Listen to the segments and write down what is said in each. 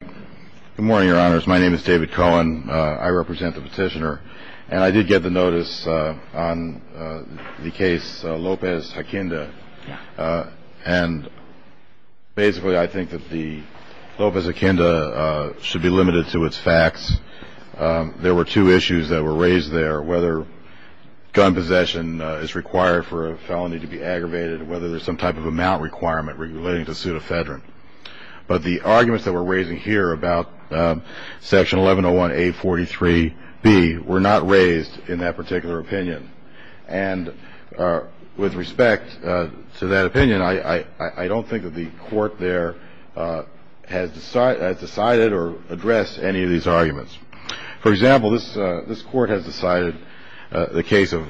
Good morning, your honors. My name is David Cohen. I represent the petitioner. And I did get the notice on the case Lopez-Hakinda. And basically, I think that the Lopez-Hakinda should be limited to its facts. There were two issues that were raised there, whether gun possession is required for a felony to be aggravated, whether there's some type of amount requirement relating to pseudofedron. But the arguments that we're raising here about Section 1101-A43-B were not raised in that particular opinion. And with respect to that opinion, I don't think that the court there has decided or addressed any of these arguments. For example, this Court has decided the case of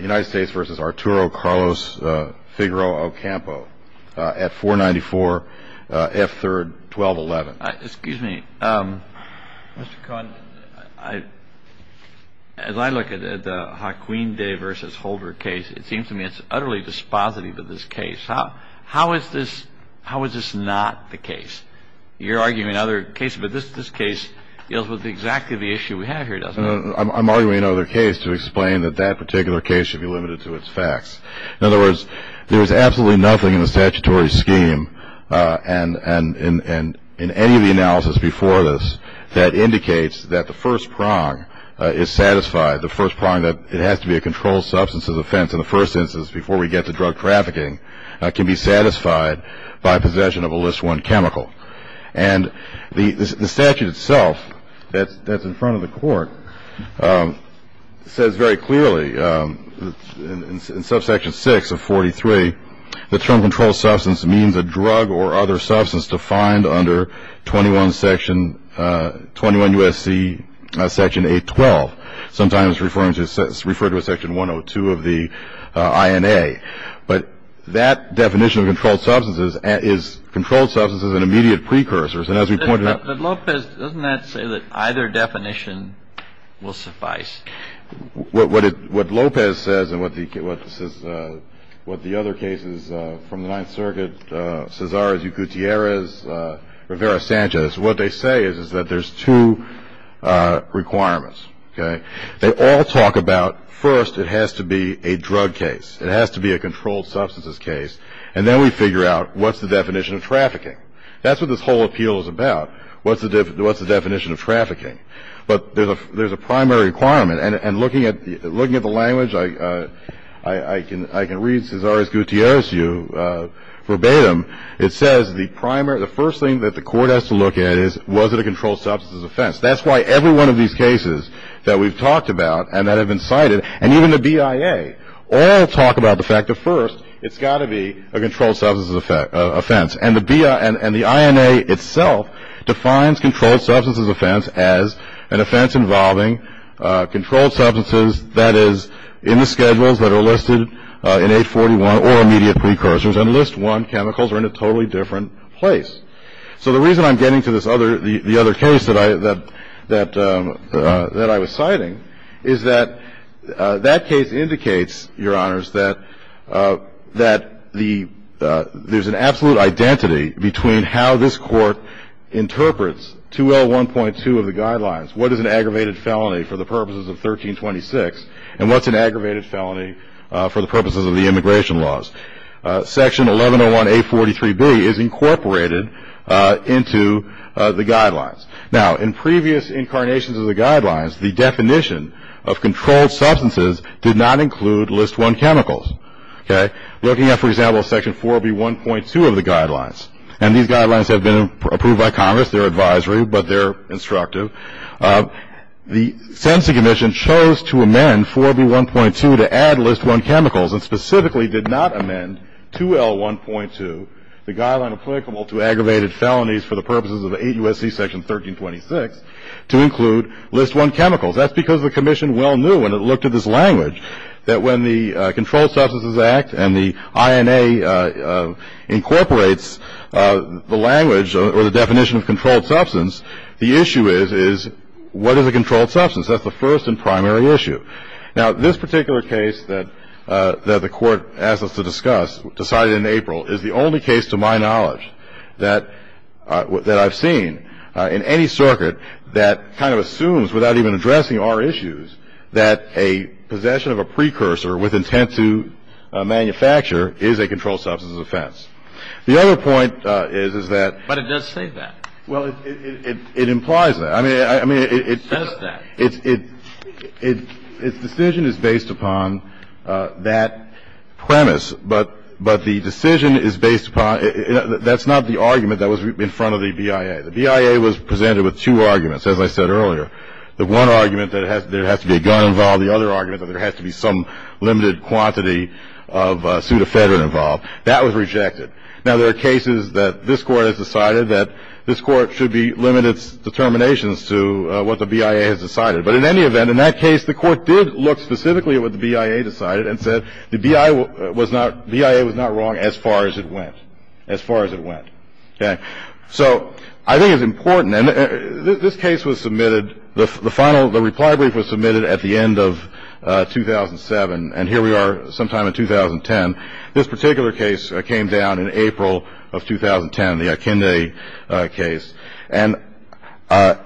United States v. Arturo Carlos Figueroa Ocampo at 494 F. 3rd, 1211. Excuse me. Mr. Cohen, as I look at the Hakinda v. Holder case, it seems to me it's utterly dispositive of this case. How is this not the case? You're arguing another case, but this case deals with exactly the issue we have here, doesn't it? I'm arguing another case to explain that that particular case should be limited to its facts. In other words, there is absolutely nothing in the statutory scheme and in any of the analysis before this that indicates that the first prong is satisfied, the first prong that it has to be a controlled substance offense in the first instance before we get to drug trafficking can be satisfied by possession of a list one chemical. And the statute itself that's in front of the court says very clearly in subsection 6 of 43 that term controlled substance means a drug or other substance defined under 21 USC section 812, sometimes referred to as section 102 of the INA. But that definition of controlled substances is controlled substances and immediate precursors. And as we pointed out — But, Lopez, doesn't that say that either definition will suffice? What Lopez says and what the other cases from the Ninth Circuit, Cesares-Yucutierrez, Rivera-Sanchez, what they say is that there's two requirements, okay? They all talk about first it has to be a drug case. It has to be a controlled substances case. And then we figure out what's the definition of trafficking. That's what this whole appeal is about, what's the definition of trafficking. But there's a primary requirement. And looking at the language, I can read Cesares-Yucutierrez verbatim. It says the primary — the first thing that the court has to look at is was it a controlled substances offense. That's why every one of these cases that we've talked about and that have been cited, and even the BIA, all talk about the fact that first it's got to be a controlled substances offense. And the BIA — and the INA itself defines controlled substances offense as an offense involving controlled substances that is in the schedules that are listed in 841 or immediate precursors. And list one chemicals are in a totally different place. So the reason I'm getting to this other — the other case that I was citing is that that case indicates, Your Honors, that there's an absolute identity between how this Court interprets 2L1.2 of the guidelines, what is an aggravated felony for the purposes of 1326, and what's an aggravated felony for the purposes of the immigration laws. Section 1101A.43b is incorporated into the guidelines. Now, in previous incarnations of the guidelines, the definition of controlled substances did not include list one chemicals. Looking at, for example, Section 4B.1.2 of the guidelines — and these guidelines have been approved by Congress. They're advisory, but they're instructive. The Census Commission chose to amend 4B.1.2 to add list one chemicals and specifically did not amend 2L1.2, the guideline applicable to aggravated felonies for the purposes of 8 U.S.C. Section 1326, to include list one chemicals. That's because the Commission well knew when it looked at this language that when the Controlled Substances Act and the INA incorporates the language or the definition of controlled substance, the issue is, is what is a controlled substance? That's the first and primary issue. Now, this particular case that the Court asked us to discuss, decided in April, is the only case to my knowledge that I've seen in any circuit that kind of assumes, without even addressing our issues, that a possession of a precursor with intent to manufacture is a controlled substance offense. The other point is, is that — But it does say that. Well, it implies that. I mean, it — It says that. Its decision is based upon that premise, but the decision is based upon — that's not the argument that was in front of the BIA. The BIA was presented with two arguments, as I said earlier. The one argument that there has to be a gun involved. The other argument that there has to be some limited quantity of pseudofedrin involved. That was rejected. Now, there are cases that this Court has decided that this Court should be — limit its determinations to what the BIA has decided. But in any event, in that case, the Court did look specifically at what the BIA decided and said the BIA was not — BIA was not wrong as far as it went. As far as it went. Okay? So I think it's important. And this case was submitted — the final — the reply brief was submitted at the end of 2007, and here we are sometime in 2010. This particular case came down in April of 2010, the Akinde case. And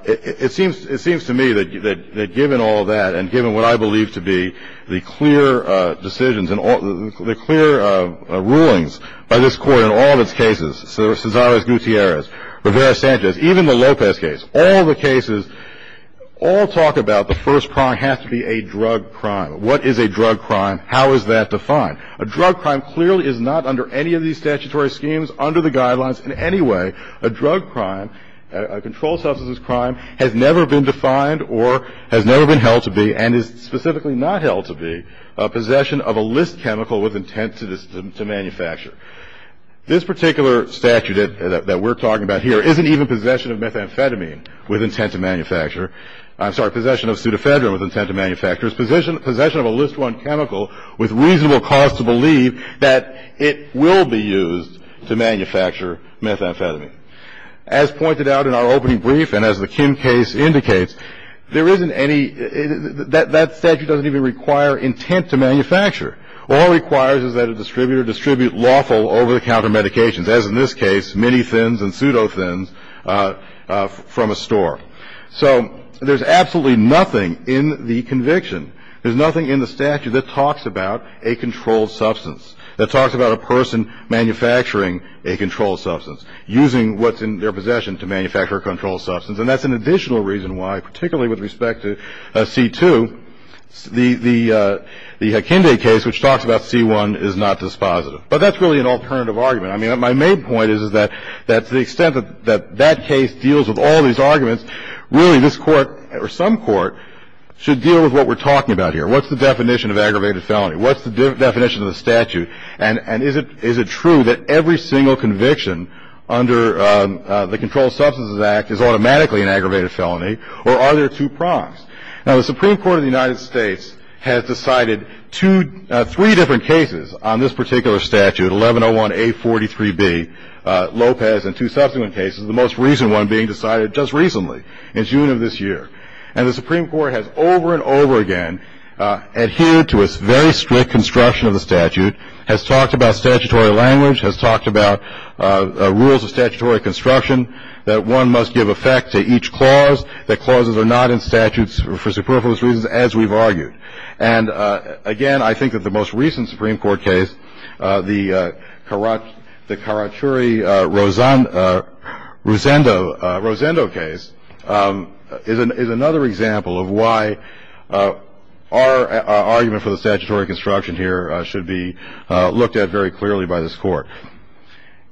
it seems — it seems to me that given all that and given what I believe to be the clear decisions and all — the clear rulings by this Court in all of its cases, Cesares-Gutierrez, Rivera-Sanchez, even the Lopez case, all the cases all talk about the first crime has to be a drug crime. What is a drug crime? How is that defined? A drug crime clearly is not under any of these statutory schemes, under the guidelines in any way. A drug crime, a controlled substances crime, has never been defined or has never been held to be and is specifically not held to be a possession of a list chemical with intent to manufacture. This particular statute that we're talking about here isn't even possession of methamphetamine with intent to manufacture. I'm sorry. It's possession of a list one chemical with reasonable cause to believe that it will be used to manufacture methamphetamine. As pointed out in our opening brief and as the Kim case indicates, there isn't any — that statute doesn't even require intent to manufacture. All it requires is that a distributor distribute lawful over-the-counter medications, as in this case, mini-thins and pseudo-thins from a store. So there's absolutely nothing in the conviction, there's nothing in the statute that talks about a controlled substance, that talks about a person manufacturing a controlled substance, using what's in their possession to manufacture a controlled substance. And that's an additional reason why, particularly with respect to C-2, the Hekinde case, which talks about C-1, is not dispositive. But that's really an alternative argument. I mean, my main point is that to the extent that that case deals with all these arguments, really this Court or some Court should deal with what we're talking about here. What's the definition of aggravated felony? What's the definition of the statute? And is it true that every single conviction under the Controlled Substances Act is automatically an aggravated felony? Or are there two prongs? Now, the Supreme Court of the United States has decided three different cases on this particular statute, 1101A43B, Lopez, and two subsequent cases, the most recent one being decided just recently, in June of this year. And the Supreme Court has over and over again adhered to its very strict construction of the statute, has talked about statutory language, has talked about rules of statutory construction, that one must give effect to each clause, that clauses are not in statutes for superfluous reasons, as we've argued. And, again, I think that the most recent Supreme Court case, the Karachuri-Rosendo case, is another example of why our argument for the statutory construction here should be looked at very clearly by this Court.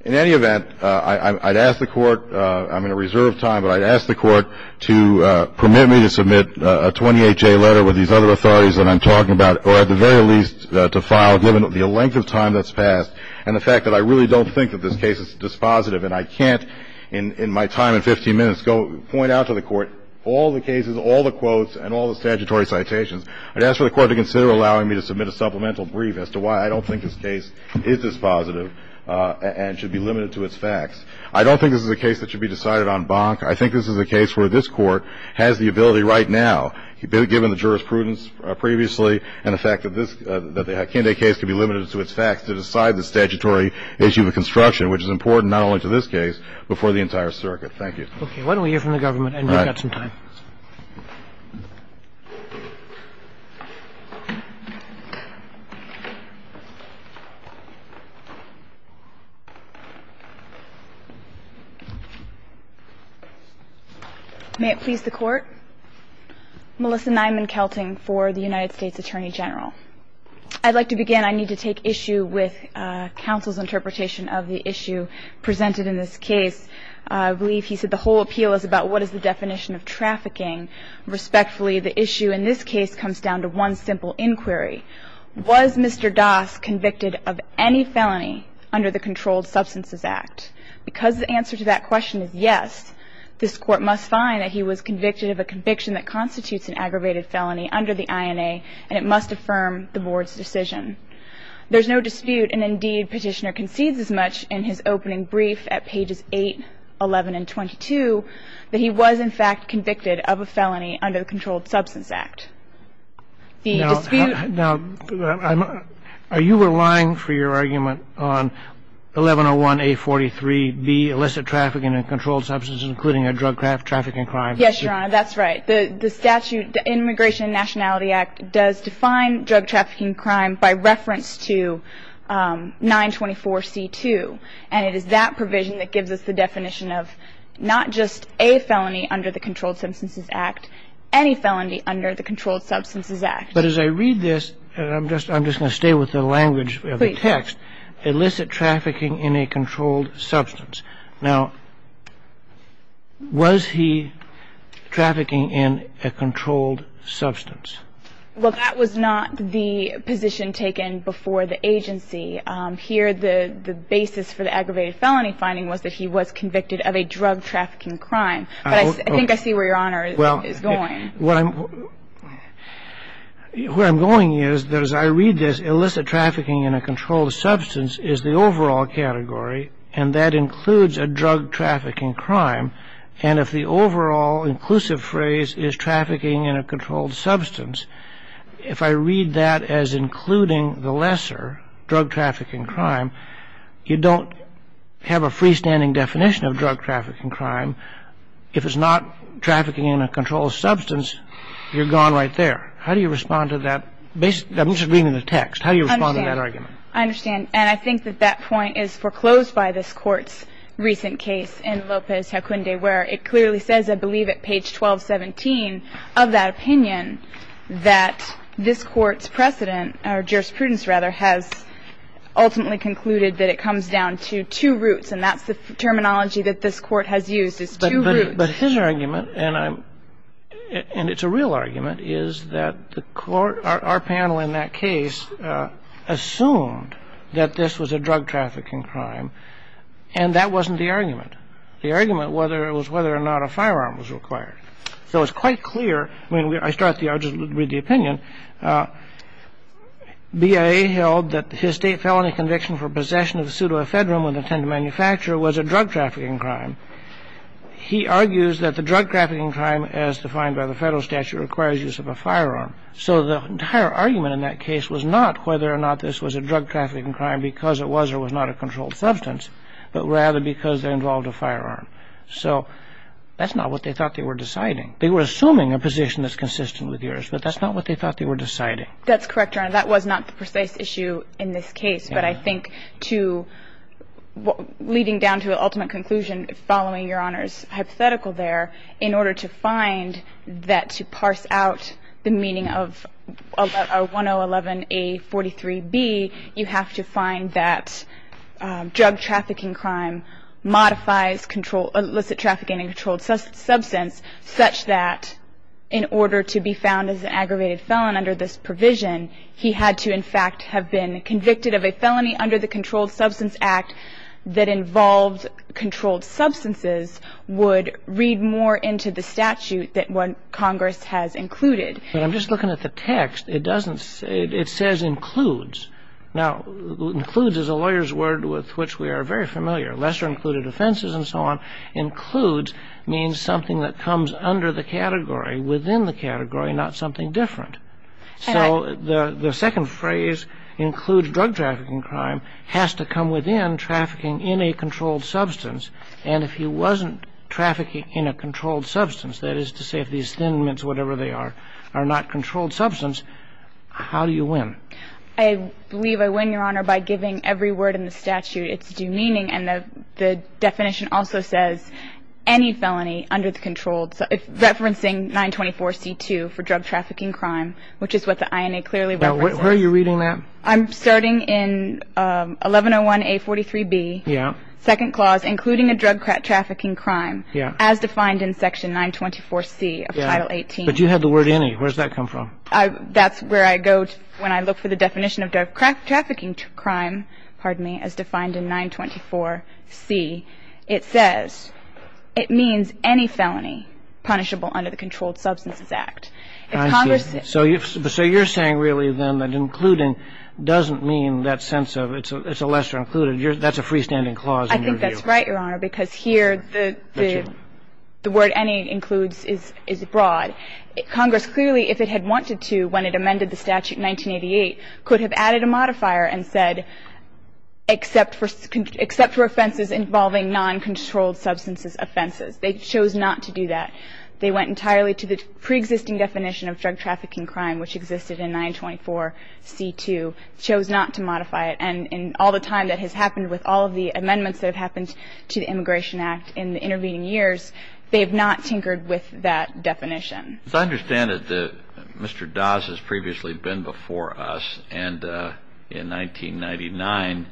In any event, I'd ask the Court, I'm in a reserve of time, but I'd ask the Court to permit me to submit a 28-J letter with these other authorities that I'm talking about, or at the very least to file, given the length of time that's passed, and the fact that I really don't think that this case is dispositive. And I can't in my time and 15 minutes go point out to the Court all the cases, all the quotes, and all the statutory citations. I'd ask for the Court to consider allowing me to submit a supplemental brief as to why I don't think this case is dispositive. And it should be limited to its facts. I don't think this is a case that should be decided en banc. I think this is a case where this Court has the ability right now, given the jurisprudence previously and the fact that this Kenday case could be limited to its facts, to decide the statutory issue of construction, which is important not only to this case, but for the entire circuit. Okay. Why don't we hear from the government, and we've got some time. May it please the Court. Melissa Nyman-Kelting for the United States Attorney General. I'd like to begin. I need to take issue with counsel's interpretation of the issue presented in this case. I believe he said the whole appeal is about what is the definition of trafficking. Respectfully, the issue in this case comes down to one simple inquiry. Was Mr. Das convicted of any felony under the Controlled Substances Act? Because the answer to that question is yes, this Court must find that he was convicted of a conviction that constitutes an aggravated felony under the INA, and it must affirm the Board's decision. There's no dispute, and indeed Petitioner concedes as much in his opening brief at pages 8, 11, and 22, that he was in fact convicted of a felony under the Controlled Substances Act. The dispute — Now, are you relying for your argument on 1101A43B, illicit trafficking in controlled substances, including a drug trafficking crime? Yes, Your Honor. That's right. The statute, the Immigration and Nationality Act, does define drug trafficking crime by reference to 924C2, and it is that provision that gives us the definition of not just a felony under the Controlled Substances Act, any felony under the Controlled Substances Act. But as I read this, and I'm just going to stay with the language of the text, illicit trafficking in a controlled substance. Now, was he trafficking in a controlled substance? Well, that was not the position taken before the agency. Here the basis for the aggravated felony finding was that he was convicted of a drug trafficking crime. But I think I see where Your Honor is going. Well, where I'm going is that as I read this, illicit trafficking in a controlled substance is the overall category, and that includes a drug trafficking crime. And if the overall inclusive phrase is trafficking in a controlled substance, if I read that as including the lesser drug trafficking crime, you don't have a freestanding definition of drug trafficking crime. If it's not trafficking in a controlled substance, you're gone right there. How do you respond to that? I'm just reading the text. How do you respond to that argument? I understand. And I think that that point is foreclosed by this Court's recent case in Lopez-Hacunde where it clearly says, I believe, at page 1217 of that opinion, that this Court's precedent, or jurisprudence, rather, has ultimately concluded that it comes down to two roots, and that's the terminology that this Court has used, is two roots. But his argument, and it's a real argument, is that our panel in that case assumed that this was a drug trafficking crime, and that wasn't the argument. The argument was whether or not a firearm was required. So it's quite clear. I mean, I'll just read the opinion. BIA held that his state felony conviction for possession of a pseudoephedrine was a drug trafficking crime. He argues that the drug trafficking crime, as defined by the Federal statute, requires use of a firearm. So the entire argument in that case was not whether or not this was a drug trafficking crime because it was or was not a controlled substance, but rather because it involved a firearm. So that's not what they thought they were deciding. They were assuming a position that's consistent with yours, but that's not what they thought they were deciding. That's correct, Your Honor. That was not the precise issue in this case. But I think leading down to the ultimate conclusion, following Your Honor's hypothetical there, in order to find that, to parse out the meaning of 1011A43B, you have to find that drug trafficking crime modifies illicit trafficking in a controlled substance such that in order to be found as an aggravated felon under this provision, he had to in fact have been convicted of a felony under the Controlled Substance Act that involved controlled substances would read more into the statute than what Congress has included. I'm just looking at the text. It says includes. Now, includes is a lawyer's word with which we are very familiar. Lesser included offenses and so on. Includes means something that comes under the category, within the category, not something different. So the second phrase, includes drug trafficking crime, has to come within trafficking in a controlled substance. And if he wasn't trafficking in a controlled substance, that is to say if these thin mints, whatever they are, are not controlled substance, how do you win? I believe I win, Your Honor, by giving every word in the statute its due meaning. And the definition also says any felony under the controlled, referencing 924C2 for drug trafficking crime, which is what the INA clearly represents. Where are you reading that? I'm starting in 1101A43B, second clause, including a drug trafficking crime, as defined in section 924C of Title 18. But you had the word any. Where does that come from? That's where I go when I look for the definition of drug trafficking crime, as defined in 924C. It says it means any felony punishable under the Controlled Substances Act. If Congress said any. I see. So you're saying really then that including doesn't mean that sense of it's a lesser included. That's a freestanding clause in your view. I think that's right, Your Honor, because here the word any includes is broad. Congress clearly, if it had wanted to when it amended the statute in 1988, could have added a modifier and said except for offenses involving non-controlled substances offenses. They chose not to do that. They went entirely to the preexisting definition of drug trafficking crime, which existed in 924C2, chose not to modify it. And all the time that has happened with all of the amendments that have happened to the Immigration Act in the intervening years, they have not tinkered with that definition. As I understand it, Mr. Doss has previously been before us and in 1999,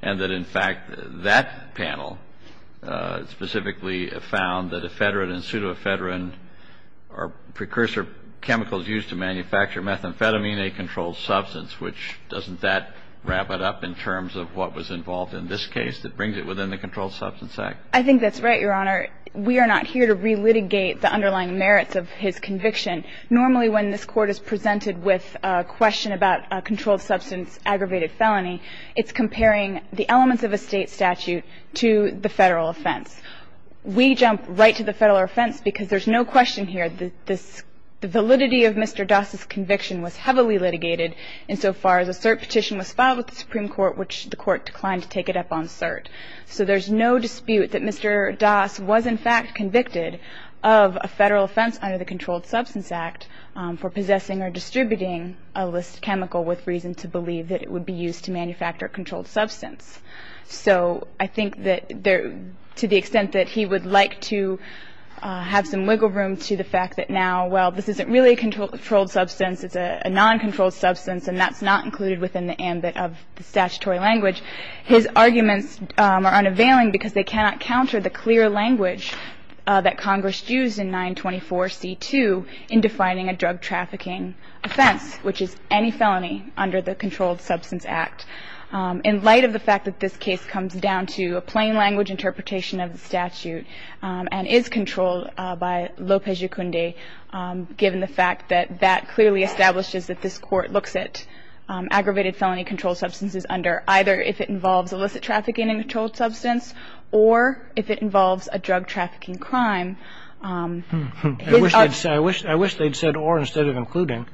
and that in fact that panel specifically found that ephedrine and pseudoephedrine are precursor chemicals used to manufacture methamphetamine, a controlled substance, which doesn't that wrap it up in terms of what was involved in this case that brings it within the Controlled Substances Act? I think that's right, Your Honor. We are not here to relitigate the underlying merits of his conviction. Normally when this Court is presented with a question about a controlled substance aggravated felony, it's comparing the elements of a state statute to the Federal offense. We jump right to the Federal offense because there's no question here that this validity of Mr. Doss' conviction was heavily litigated insofar as a cert petition was filed with the Supreme Court, which the Court declined to take it up on cert. So there's no dispute that Mr. Doss was, in fact, convicted of a Federal offense under the Controlled Substances Act for possessing or distributing a list chemical with reason to believe that it would be used to manufacture a controlled substance. So I think that to the extent that he would like to have some wiggle room to the fact that now, well, this isn't really a controlled substance. It's a non-controlled substance, and that's not included within the ambit of the statutory language. His arguments are unavailing because they cannot counter the clear language that Congress used in 924C2 in defining a drug trafficking offense, which is any felony under the Controlled Substance Act. In light of the fact that this case comes down to a plain language interpretation of the statute and is controlled by Lopez-Yacunde, given the fact that that clearly establishes that this Court looks at aggravated felony controlled substances under either if it involves illicit trafficking in a controlled substance or if it involves a drug trafficking crime. I wish they'd said or instead of including.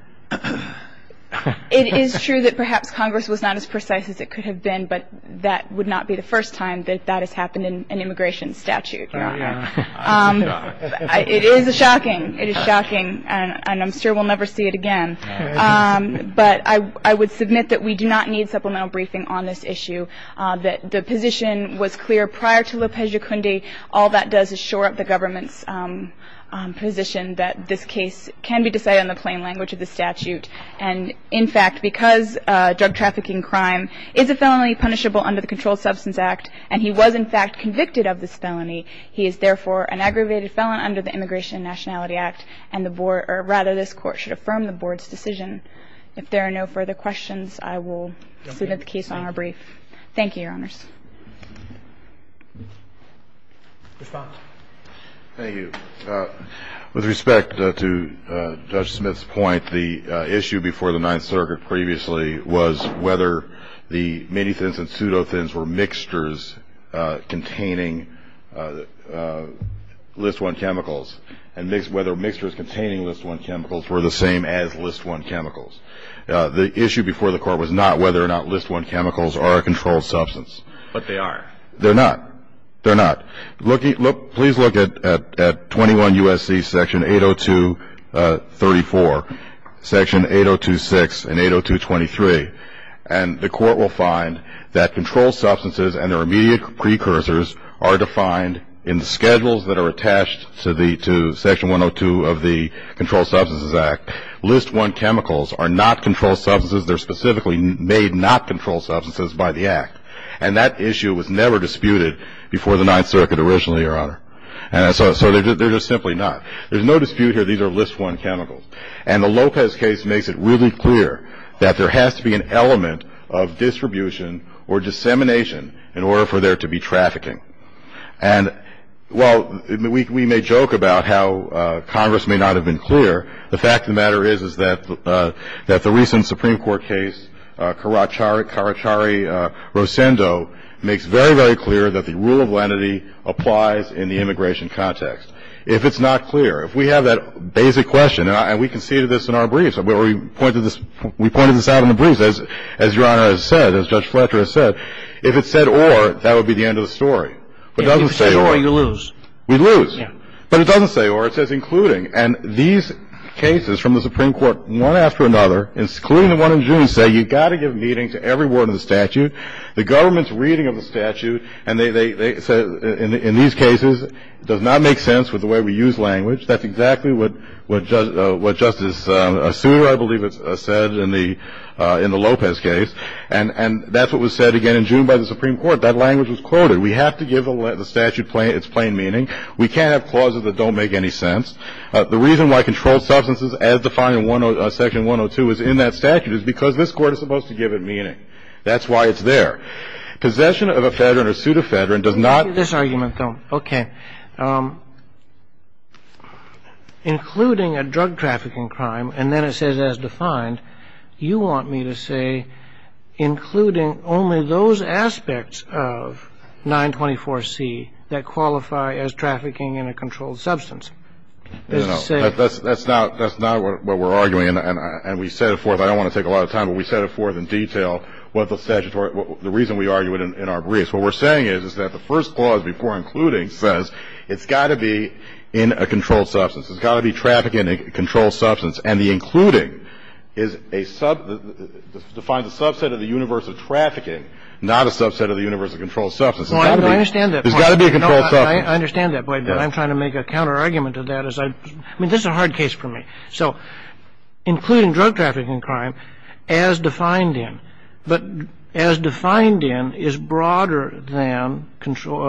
It is true that perhaps Congress was not as precise as it could have been, but that would not be the first time that that has happened in an immigration statute, Your Honor. It is shocking. It is shocking, and I'm sure we'll never see it again. But I would submit that we do not need supplemental briefing on this issue. The position was clear prior to Lopez-Yacunde. All that does is shore up the government's position that this case can be decided in the plain language of the statute. And in fact, because drug trafficking crime is a felony punishable under the Controlled Substance Act, and he was in fact convicted of this felony, he is therefore an aggravated felon under the Immigration and Nationality Act, and the board or rather this court should affirm the board's decision. If there are no further questions, I will submit the case on our brief. Thank you, Your Honors. Respond. Thank you. With respect to Judge Smith's point, the issue before the Ninth Circuit previously was whether the minitins and pseudotins were the same as List I chemicals. The issue before the court was not whether or not List I chemicals are a controlled substance. But they are. They're not. They're not. Please look at 21 U.S.C. section 802.34, section 802.6, and 802.23, and the court will find that controlled substances and their immediate precursors are defined in schedules that are attached to section 102 of the Controlled Substances Act. List I chemicals are not controlled substances. They're specifically made not controlled substances by the Act, and that issue was never disputed before the Ninth Circuit originally, Your Honor. So they're just simply not. There's no dispute here. These are List I chemicals, and the Lopez case makes it really clear that there has to be an element of distribution or dissemination in order for there to be trafficking. And while we may joke about how Congress may not have been clear, the fact of the matter is that the recent Supreme Court case, Karachari-Rosendo, makes very, very clear that the rule of lenity applies in the immigration context. If it's not clear, if we have that basic question, and we conceded this in our briefs, we pointed this out in the briefs, as Your Honor has said, as Judge Fletcher has said, if it said or, that would be the end of the story. If it says or, you lose. We lose. But it doesn't say or. It says including. And these cases from the Supreme Court, one after another, including the one in June, say you've got to give meaning to every word in the statute. The government's reading of the statute, and they say in these cases, does not make sense with the way we use language. That's exactly what Justice Souter, I believe, said in the Lopez case. And that's what was said again in June by the Supreme Court. That language was quoted. We have to give the statute its plain meaning. We can't have clauses that don't make any sense. The reason why controlled substances as defined in Section 102 is in that statute is because this Court is supposed to give it meaning. That's why it's there. Possession of a federal or pseudo-federal does not. This argument, though. Okay. Including a drug trafficking crime, and then it says as defined, you want me to say including only those aspects of 924C that qualify as trafficking in a controlled substance. That's not what we're arguing, and we set it forth. I don't want to take a lot of time, but we set it forth in detail. The reason we argue it in our briefs, what we're saying is, is that the first clause before including says it's got to be in a controlled substance. It's got to be trafficking in a controlled substance. And the including defines a subset of the universe of trafficking, not a subset of the universe of controlled substance. There's got to be a controlled substance. I understand that point, but I'm trying to make a counterargument to that. I mean, this is a hard case for me. So including drug trafficking crime as defined in, but as defined in is broader than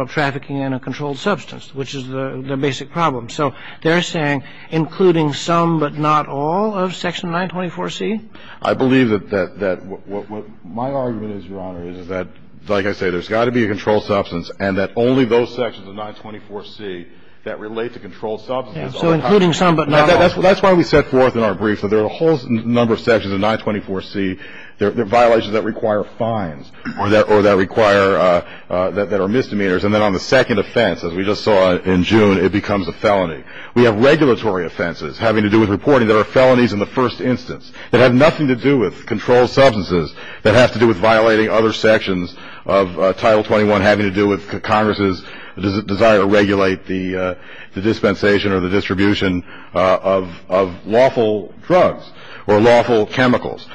trafficking in a controlled substance, which is the basic problem. So they're saying including some but not all of section 924C? I believe that what my argument is, Your Honor, is that, like I say, there's got to be a controlled substance and that only those sections of 924C that relate to controlled substance. So including some but not all. That's why we set forth in our briefs that there are a whole number of sections of 924C that are violations that require fines or that require, that are misdemeanors. And then on the second offense, as we just saw in June, it becomes a felony. We have regulatory offenses having to do with reporting that are felonies in the first instance that have nothing to do with controlled substances that have to do with violating other sections of Title 21 having to do with Congress's desire to regulate the dispensation or the distribution of lawful drugs or lawful chemicals.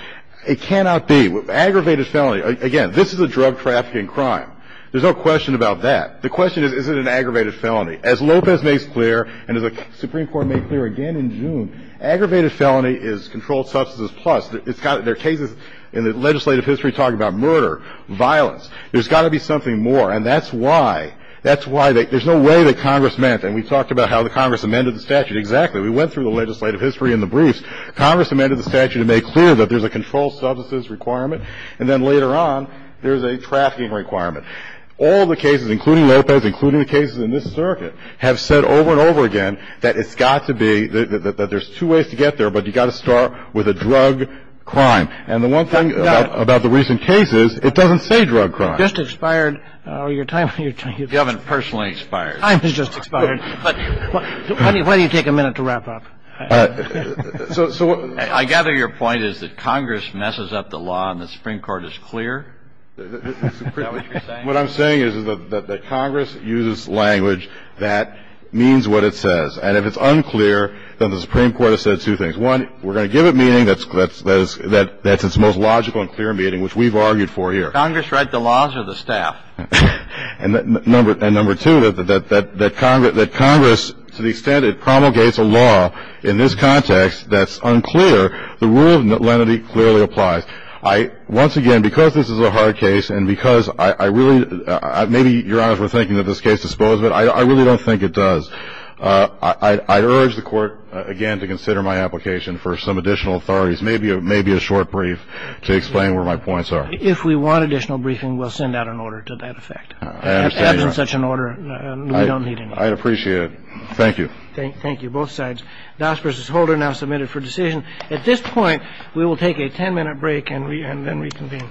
It cannot be. Aggravated felony. Again, this is a drug trafficking crime. There's no question about that. The question is, is it an aggravated felony? As Lopez makes clear and as the Supreme Court made clear again in June, aggravated felony is controlled substances plus. There are cases in the legislative history talking about murder, violence. There's got to be something more, and that's why. That's why. There's no way that Congress meant, and we talked about how the Congress amended the statute. Exactly. We went through the legislative history in the briefs. Congress amended the statute to make clear that there's a controlled substances requirement, and then later on there's a trafficking requirement. All the cases, including Lopez, including the cases in this circuit, have said over and over again that it's got to be, that there's two ways to get there, but you've got to start with a drug crime. And the one thing about the recent cases, it doesn't say drug crime. Just expired. Your time. You haven't personally expired. Time has just expired. Why do you take a minute to wrap up? I gather your point is that Congress messes up the law and the Supreme Court is clear? Is that what you're saying? What I'm saying is that Congress uses language that means what it says. And if it's unclear, then the Supreme Court has said two things. One, we're going to give it meaning, that's its most logical and clear meaning, which we've argued for here. Congress write the laws or the staff? And number two, that Congress, to the extent it promulgates a law in this context that's unclear, the rule of lenity clearly applies. Once again, because this is a hard case and because I really – maybe, Your Honor, we're thinking that this case disposes of it. I really don't think it does. I urge the Court, again, to consider my application for some additional authorities, maybe a short brief to explain where my points are. If we want additional briefing, we'll send out an order to that effect. I understand, Your Honor. As in such an order, we don't need any. I'd appreciate it. Thank you. Thank you, both sides. Das versus Holder now submitted for decision. At this point, we will take a ten-minute break and then reconvene.